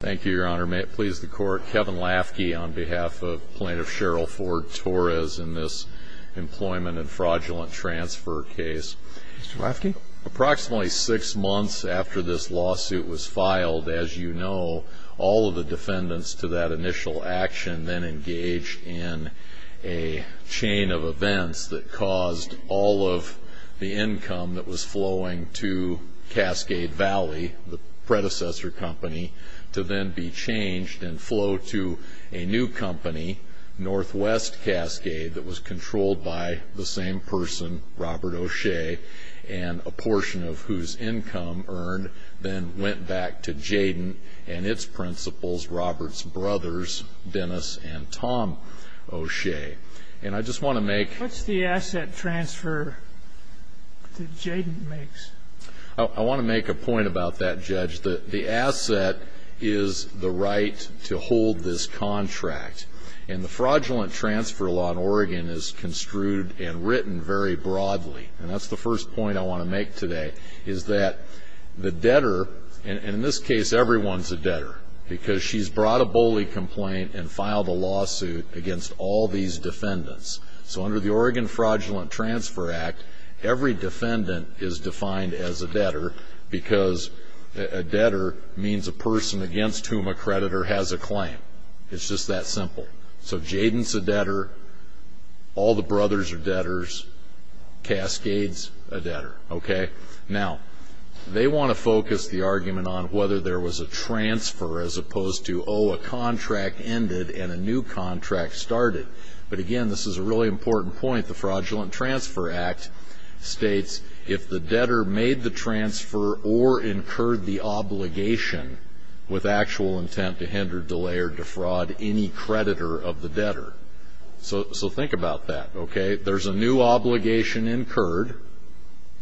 Thank you, Your Honor. May it please the Court, Kevin Lafke on behalf of Plaintiff Sherrill Ford-Torres in this employment and fraudulent transfer case. Mr. Lafke? Approximately six months after this lawsuit was filed, as you know, all of the defendants to that initial action then engaged in a chain of events that caused all of the income that went to Cascade Valley, the predecessor company, to then be changed and flow to a new company, Northwest Cascade, that was controlled by the same person, Robert O'Shea, and a portion of whose income earned then went back to Jayden and its principals, Robert's brothers, Dennis and Tom O'Shea. And I just want to make... I want to make a point about that, Judge, that the asset is the right to hold this contract. And the fraudulent transfer law in Oregon is construed and written very broadly. And that's the first point I want to make today, is that the debtor, and in this case everyone's a debtor, because she's brought a bully complaint and filed a lawsuit against all these defendants. So under the Oregon Fraudulent Transfer Act, every defendant is defined as a debtor, because a debtor means a person against whom a creditor has a claim. It's just that simple. So Jayden's a debtor, all the brothers are debtors, Cascade's a debtor. Now they want to focus the argument on whether there was a transfer as opposed to, oh, a contract ended and a new contract started. But again, this is a really important point. The Fraudulent Transfer Act states if the debtor made the transfer or incurred the obligation with actual intent to hinder, delay or defraud any creditor of the debtor. So think about that, okay? There's a new obligation incurred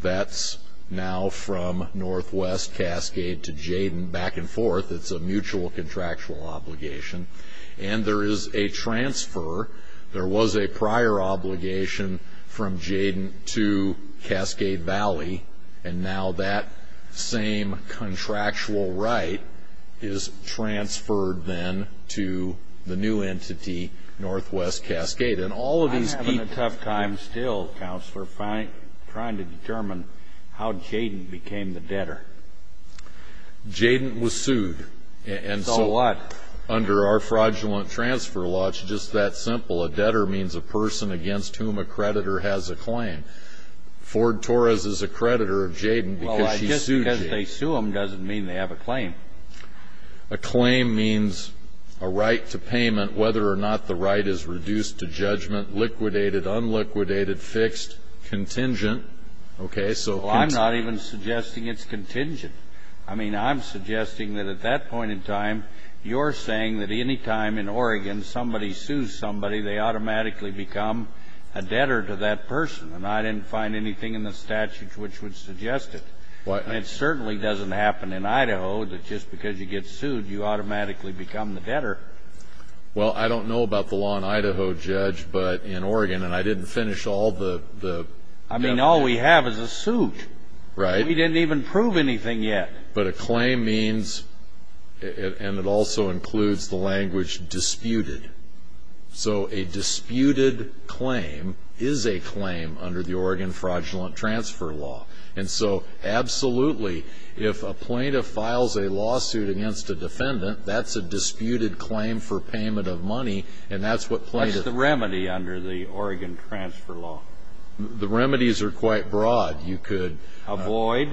that's now from Northwest Cascade to Jayden back and forth. It's a mutual contractual obligation. And there is a transfer. There was a prior obligation from Jayden to Cascade Valley. And now that same contractual right is transferred then to the new entity, Northwest Cascade. And all of these people- I'm having a tough time still, Counselor, trying to determine how Jayden became the debtor. Jayden was sued. And so- Our fraudulent transfer law, it's just that simple. A debtor means a person against whom a creditor has a claim. Ford Torres is a creditor of Jayden because she sued Jayden. Well, just because they sue them doesn't mean they have a claim. A claim means a right to payment, whether or not the right is reduced to judgment, liquidated, unliquidated, fixed, contingent, okay? So- Well, I'm not even suggesting it's contingent. I mean, I'm suggesting that at that point in time, you're saying that any time in Oregon somebody sues somebody, they automatically become a debtor to that person. And I didn't find anything in the statutes which would suggest it. It certainly doesn't happen in Idaho that just because you get sued, you automatically become the debtor. Well, I don't know about the law in Idaho, Judge, but in Oregon, and I didn't finish all the- I mean, all we have is a suit. Right. We didn't even prove anything yet. But a claim means, and it also includes the language disputed. So a disputed claim is a claim under the Oregon Fraudulent Transfer Law. And so, absolutely, if a plaintiff files a lawsuit against a defendant, that's a disputed claim for payment of money, and that's what plaintiffs- What's the remedy under the Oregon Transfer Law? The remedies are quite broad. You could- Avoid,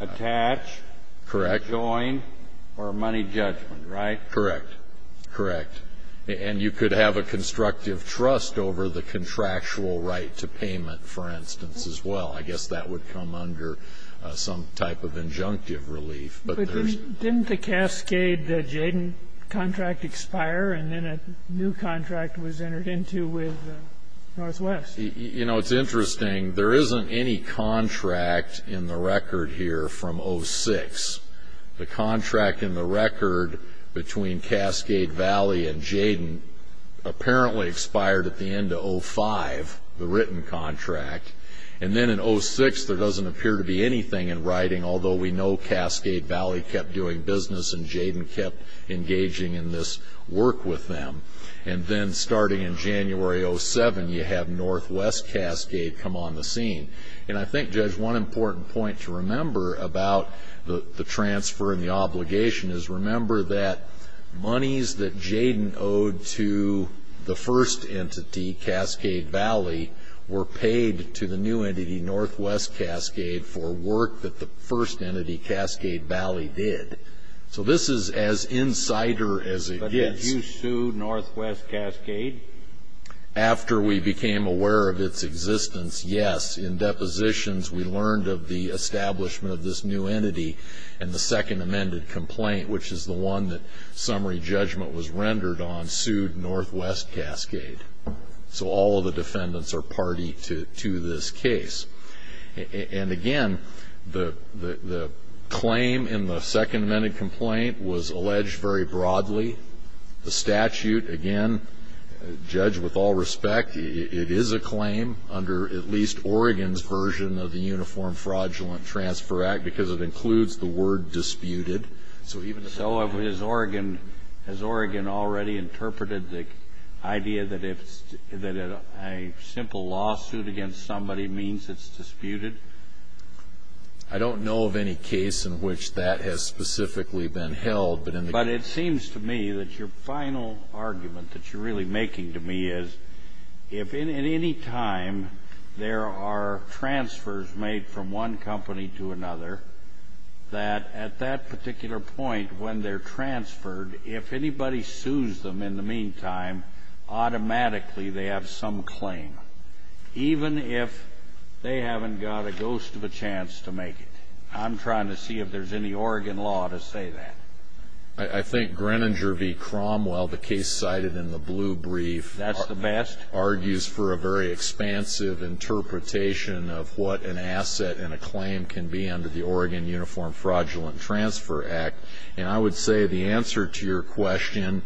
attach, rejoin, or money judgment, right? Correct. Correct. And you could have a constructive trust over the contractual right to payment, for instance, as well. I guess that would come under some type of injunctive relief. But there's- Didn't the Cascade-Jayden contract expire, and then a new contract was entered into with Northwest? You know, it's interesting. There isn't any contract in the record here from 06. The contract in the record between Cascade Valley and Jayden apparently expired at the end of 05, the written contract. And then in 06, there doesn't appear to be anything in writing, although we know Cascade Valley kept doing business, and Jayden kept engaging in this work with them. And then starting in January 07, you have Northwest Cascade come on the scene. And I think, Judge, one important point to remember about the transfer and the obligation is remember that monies that Jayden owed to the first entity, Cascade Valley, were paid to the new entity, Northwest Cascade, for work that the first entity, Cascade Valley, did. So this is as insider as it gets. But did you sue Northwest Cascade? After we became aware of its existence, yes. In depositions, we learned of the establishment of this new entity in the second amended complaint, which is the one that summary judgment was rendered on, sued Northwest Cascade. So all of the defendants are party to this case. And again, the claim in the second amended complaint was alleged very broadly. The statute, again, Judge, with all respect, it is a claim under at least Oregon's version of the Uniform Fraudulent Transfer Act because it includes the word disputed. So even so, has Oregon already interpreted the idea that a simple lawsuit against somebody means it's disputed? I don't know of any case in which that has specifically been held. But it seems to me that your final argument that you're really making to me is if in any time there are transfers made from one company to another, that at that particular point when they're transferred, if anybody sues them in the meantime, automatically they have some claim. Even if they haven't got a ghost of a chance to make it. I'm trying to see if there's any Oregon law to say that. I think Greninger v. Cromwell, the case cited in the blue brief, argues for a very expansive interpretation of what an asset and a claim can be under the Oregon Uniform Fraudulent Transfer Act. And I would say the answer to your question,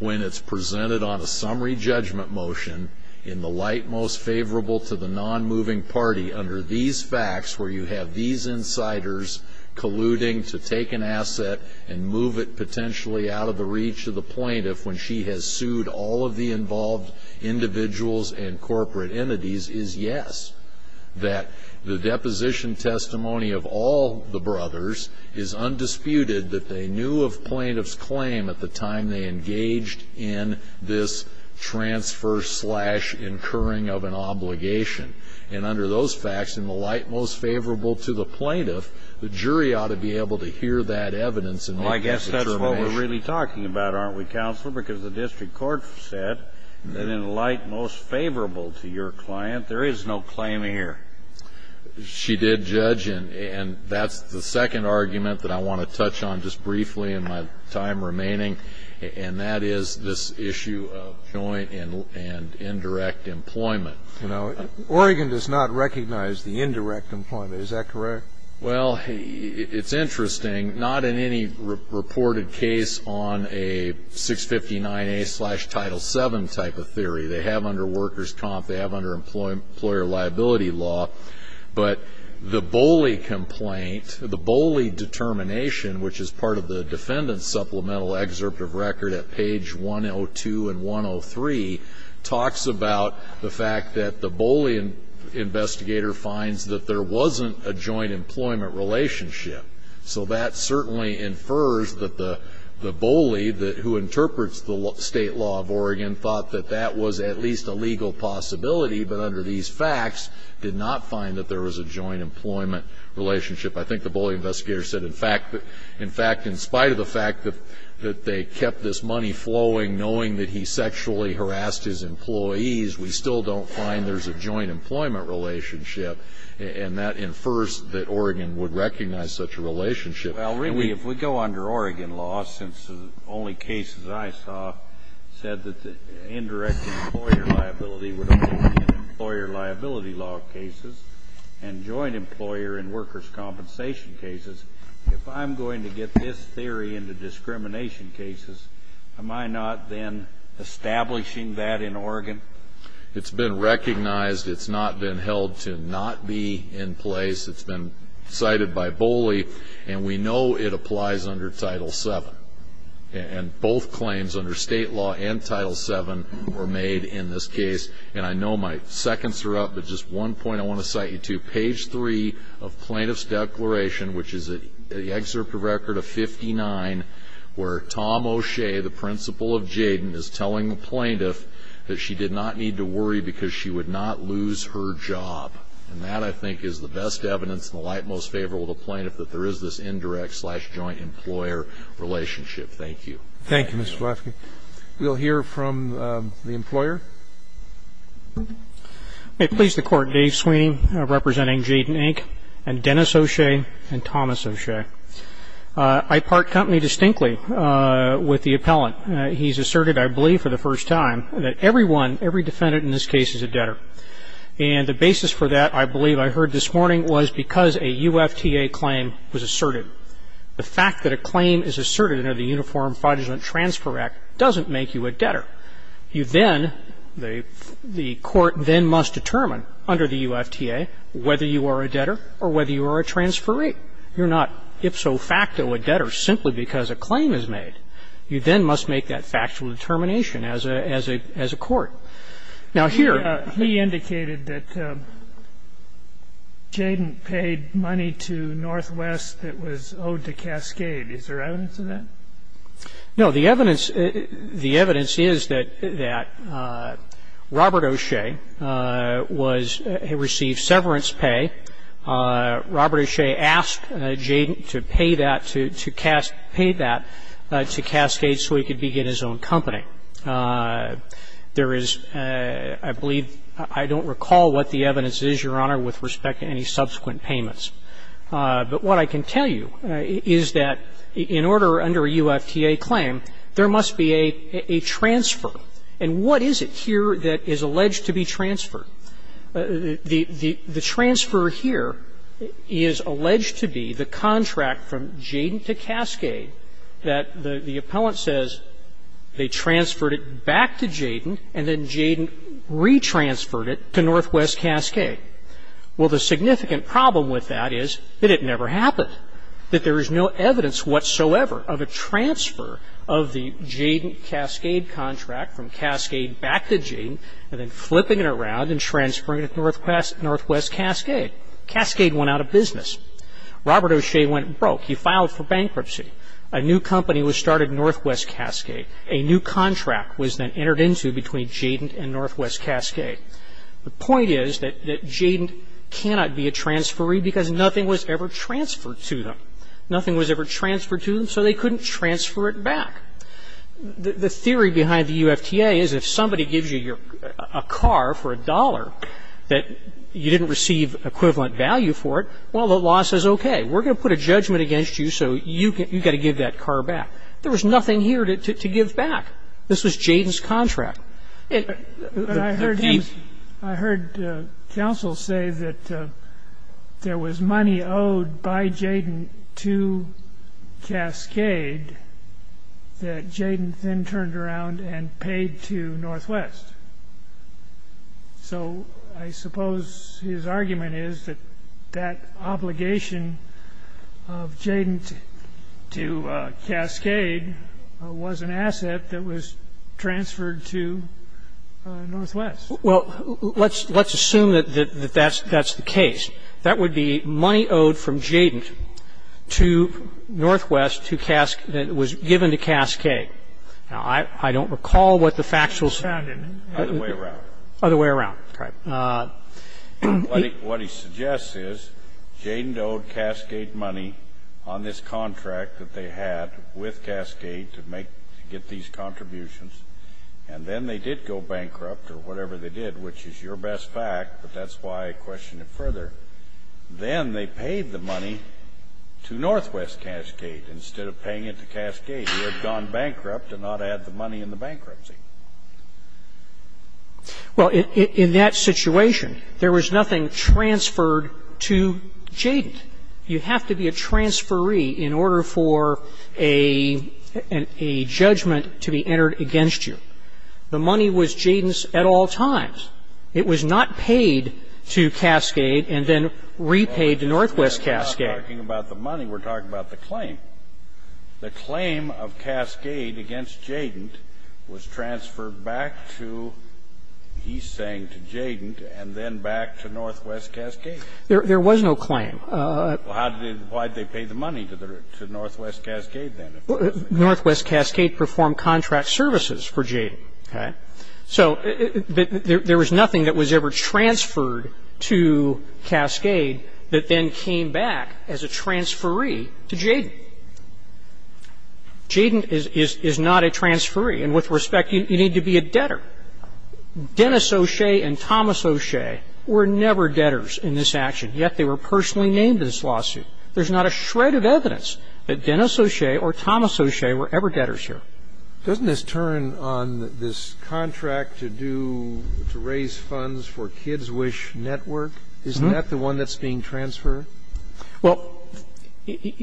when it's presented on a summary judgment motion in the light most favorable to the non-moving party under these facts where you have these insiders colluding to take an asset and move it potentially out of the reach of the plaintiff when she has sued all of the involved individuals and corporate entities is yes. That the deposition testimony of all the brothers is undisputed that they knew of plaintiff's claim at the time they engaged in this transfer slash incurring of an obligation. And under those facts, in the light most favorable to the plaintiff, the jury ought to be able to hear that evidence and make a determination. Well, I guess that's what we're really talking about, aren't we, Counselor, because the district court said that in the light most favorable to your client, there is no claim here. She did judge, and that's the second argument that I want to touch on just briefly in my remaining, and that is this issue of joint and indirect employment. You know, Oregon does not recognize the indirect employment. Is that correct? Well, it's interesting, not in any reported case on a 659A slash Title VII type of theory. They have under workers' comp, they have under employer liability law, but the Boley complaint, the Boley determination, which is part of the defendant's supplemental excerpt of record at page 102 and 103, talks about the fact that the Boley investigator finds that there wasn't a joint employment relationship. So that certainly infers that the Boley, who interprets the state law of Oregon, thought that that was at least a legal possibility, but under these facts, did not find that there was a joint employment relationship. I think the Boley investigator said, in fact, in spite of the fact that they kept this money flowing knowing that he sexually harassed his employees, we still don't find there's a joint employment relationship, and that infers that Oregon would recognize such a relationship. Well, really, if we go under Oregon law, since the only cases I saw said that the indirect employer liability would only be in employer liability law cases, and joint employer and compensation cases, if I'm going to get this theory into discrimination cases, am I not then establishing that in Oregon? It's been recognized. It's not been held to not be in place. It's been cited by Boley, and we know it applies under Title VII, and both claims under state law and Title VII were made in this case, and I know my seconds are up, but just one point I want to cite you to, page 3 of Plaintiff's Declaration, which is the excerpt of record of 59, where Tom O'Shea, the principal of Jayden, is telling the plaintiff that she did not need to worry because she would not lose her job, and that, I think, is the best evidence and the light most favorable to the plaintiff that there is this indirect-slash-joint employer relationship. Thank you. Thank you, Mr. Flafke. We'll hear from the employer. May it please the Court, Dave Sweeney, representing Jayden, Inc., and Dennis O'Shea, and Thomas O'Shea. I part company distinctly with the appellant. He's asserted, I believe for the first time, that everyone, every defendant in this case is a debtor, and the basis for that, I believe I heard this morning, was because a UFTA claim was asserted. The fact that a claim is asserted under the Uniform Fraudulent Transfer Act doesn't make you a debtor. You then, the Court then must determine under the UFTA whether you are a debtor or whether you are a transferee. You're not ipso facto a debtor simply because a claim is made. You then must make that factual determination as a court. Now, here he indicated that Jayden paid money to Northwest that was owed to Cascade. Is there evidence of that? No. The evidence is that Robert O'Shea received severance pay. Robert O'Shea asked Jayden to pay that to Cascade so he could begin his own company. There is, I believe, I don't recall what the evidence is, Your Honor, with respect to any subsequent payments. But what I can tell you is that in order, under a UFTA claim, there must be a transfer. And what is it here that is alleged to be transferred? The transfer here is alleged to be the contract from Jayden to Cascade that the appellant says they transferred it back to Jayden and then Jayden retransferred it to Northwest Cascade. Well, the significant problem with that is that it never happened, that there is no evidence whatsoever of a transfer of the Jayden-Cascade contract from Cascade back to Jayden and then flipping it around and transferring it to Northwest Cascade. Cascade went out of business. Robert O'Shea went broke. He filed for bankruptcy. A new company was started in Northwest Cascade. A new contract was then entered into between Jayden and Northwest Cascade. The point is that Jayden cannot be a transferee because nothing was ever transferred to them. Nothing was ever transferred to them, so they couldn't transfer it back. The theory behind the UFTA is if somebody gives you a car for a dollar that you didn't receive equivalent value for it, well, the law says, okay, we're going to put a judgment against you, so you've got to give that car back. There was nothing here to give back. This was Jayden's contract. But I heard counsel say that there was money owed by Jayden to Cascade that Jayden then turned around and paid to Northwest. So I suppose his argument is that that obligation of Jayden to Cascade was an asset that was transferred to Northwest. Well, let's assume that that's the case. That would be money owed from Jayden to Northwest that was given to Cascade. Now, I don't recall what the factuals are. Other way around. Other way around, correct. What he suggests is Jayden owed Cascade money on this contract that they had with Cascade to make, to get these contributions, and then they did go bankrupt or whatever they did, which is your best fact, but that's why I question it further. Then they paid the money to Northwest Cascade instead of paying it to Cascade, who had gone bankrupt and not had the money in the bankruptcy. Well, in that situation, there was nothing transferred to Jayden. You have to be a transferee in order for a judgment to be entered against you. The money was Jayden's at all times. It was not paid to Cascade and then repaid to Northwest Cascade. We're not talking about the money. We're talking about the claim. The claim of Cascade against Jayden was transferred back to, he's saying, to Jayden and then back to Northwest Cascade. There was no claim. Why did they pay the money to Northwest Cascade then? Northwest Cascade performed contract services for Jayden. So there was nothing that was ever transferred to Cascade that then came back as a transferee to Jayden. Jayden is not a transferee, and with respect, you need to be a debtor. Dennis O'Shea and Thomas O'Shea were never debtors in this action, yet they were personally named in this lawsuit. There's not a shred of evidence that Dennis O'Shea or Thomas O'Shea were ever debtors here. Doesn't this turn on this contract to do to raise funds for Kids Wish Network? Isn't that the one that's being transferred? Well,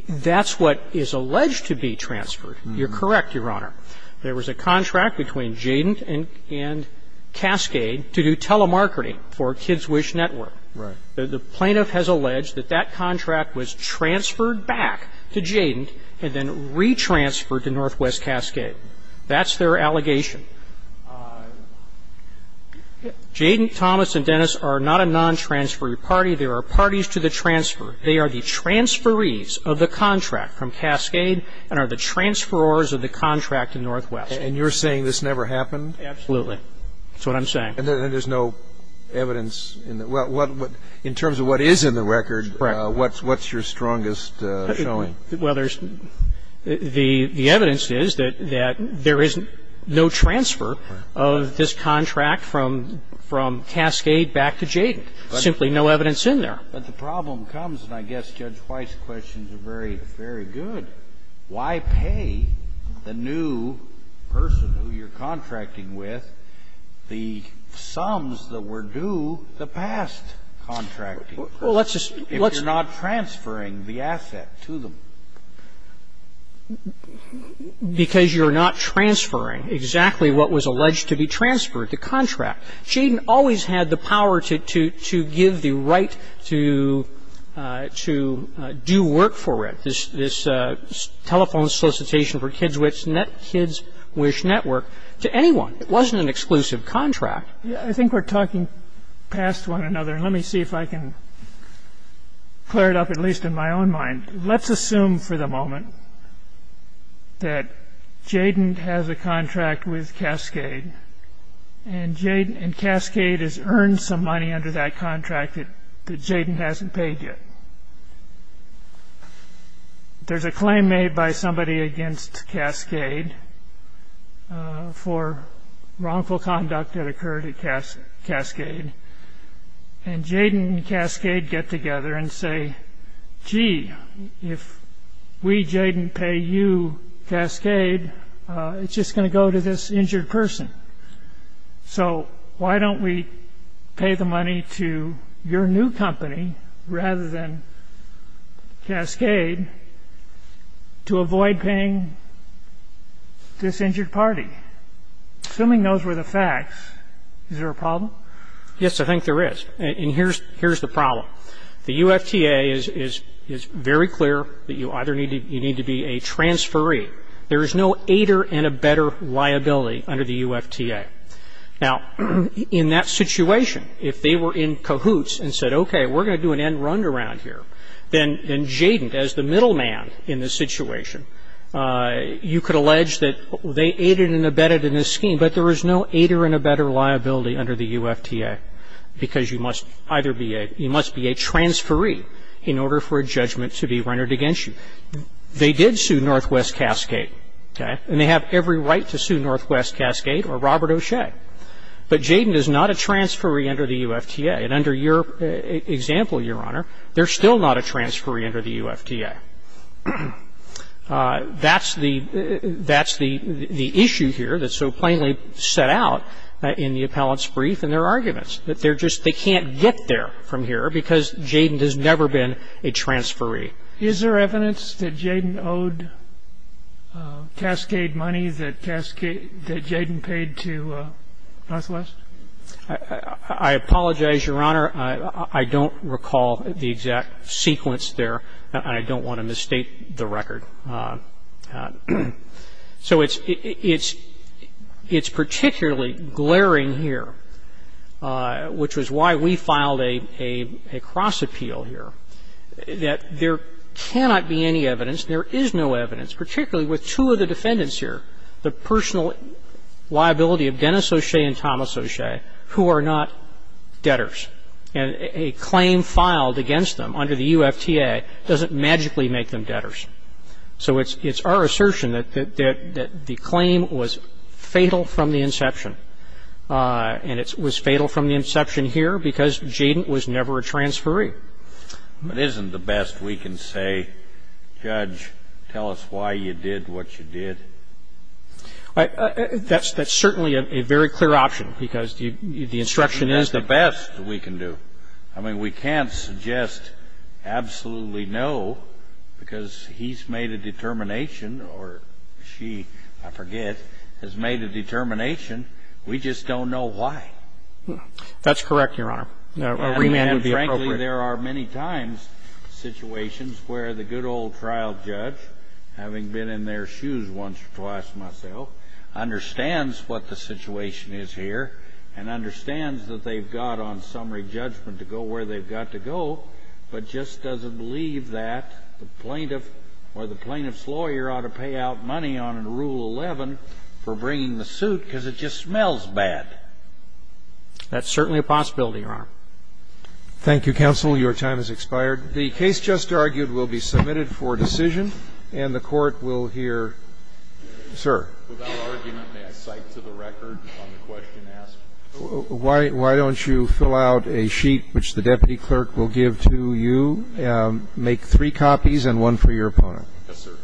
that's what is alleged to be transferred. You're correct, Your Honor. There was a contract between Jayden and Cascade to do telemarketing for Kids Wish Network. The plaintiff has alleged that that contract was transferred back to Jayden and then retransferred to Northwest Cascade. That's their allegation. Jayden, Thomas, and Dennis are not a non-transferee party. They are parties to the transfer. They are the transferees of the contract from Cascade and are the transferors of the contract to Northwest. And you're saying this never happened? Absolutely. That's what I'm saying. And there's no evidence in the record. In terms of what is in the record, what's your strongest showing? Well, the evidence is that there is no transfer of this contract from Cascade back to Jayden, simply no evidence in there. But the problem comes, and I guess Judge Weiss' questions are very, very good, why pay the new person who you're contracting with the sums that were due the past contracting person if you're not transferring the asset to them? Because you're not transferring exactly what was alleged to be transferred, the contract. Jayden always had the power to give the right to do work for it, this telephone solicitation for Kids Wish Network to anyone. It wasn't an exclusive contract. I think we're talking past one another, and let me see if I can clear it up at least in my own mind. Let's assume for the moment that Jayden has a contract with Cascade, and Cascade has earned some money under that contract that Jayden hasn't paid yet. There's a claim made by somebody against Cascade for wrongful conduct that occurred at Cascade, and Jayden and Cascade get together and say, gee, if we, Jayden, pay you, Cascade, it's just going to go to this injured person. So why don't we pay the money to your new company rather than Cascade to avoid paying this injured party? Assuming those were the facts, is there a problem? Yes, I think there is. And here's the problem. The UFTA is very clear that you either need to be a transferee. There is no aider and abetter liability under the UFTA. Now, in that situation, if they were in cahoots and said, okay, we're going to do an end round around here, then Jayden, as the middle man in this situation, you could allege that they aided and abetted in this scheme, but there is no aider and abetter liability under the UFTA, because you must be a transferee in order for a judgment to be rendered against you. They did sue Northwest Cascade, and they have every right to sue Northwest Cascade or Robert O'Shea, but Jayden is not a transferee under the UFTA. And under your example, Your Honor, they're still not a transferee under the UFTA. That's the issue here that's so plainly set out in the appellant's brief and their arguments, that they're just they can't get there from here because Jayden has never been a transferee. Is there evidence that Jayden owed Cascade money that Cascade, that Jayden paid to Northwest? I apologize, Your Honor. I don't recall the exact sequence there, and I don't want to mistake the record. So it's particularly glaring here, which was why we filed a cross appeal here, that there cannot be any evidence, there is no evidence, particularly with two of the defendants here, the personal liability of Dennis O'Shea and Thomas O'Shea, who are not debtors. And a claim filed against them under the UFTA doesn't magically make them debtors. So it's our assertion that the claim was fatal from the inception, and it was fatal from the inception here because Jayden was never a transferee. I'm just going to say that it's not the best we can do. But isn't the best we can say, Judge, tell us why you did what you did? That's certainly a very clear option, because the instruction is that the best we can do. I mean, we can't suggest absolutely no, because he's made a determination or she, I forget, has made a determination. We just don't know why. That's correct, Your Honor. A remand would be appropriate. And frankly, there are many times situations where the good old trial judge, having been in their shoes once or twice myself, understands what the situation is here and understands that they've got on summary judgment to go where they've got to go, but just doesn't believe that the plaintiff or the plaintiff's lawyer ought to pay out money on Rule 11 for bringing the suit because it just smells bad. That's certainly a possibility, Your Honor. Thank you, counsel. Your time has expired. The case just argued will be submitted for decision, and the Court will hear, sir. Without argument, may I cite to the record on the question asked? Why don't you fill out a sheet, which the deputy clerk will give to you. Make three copies and one for your opponent. Yes, sir.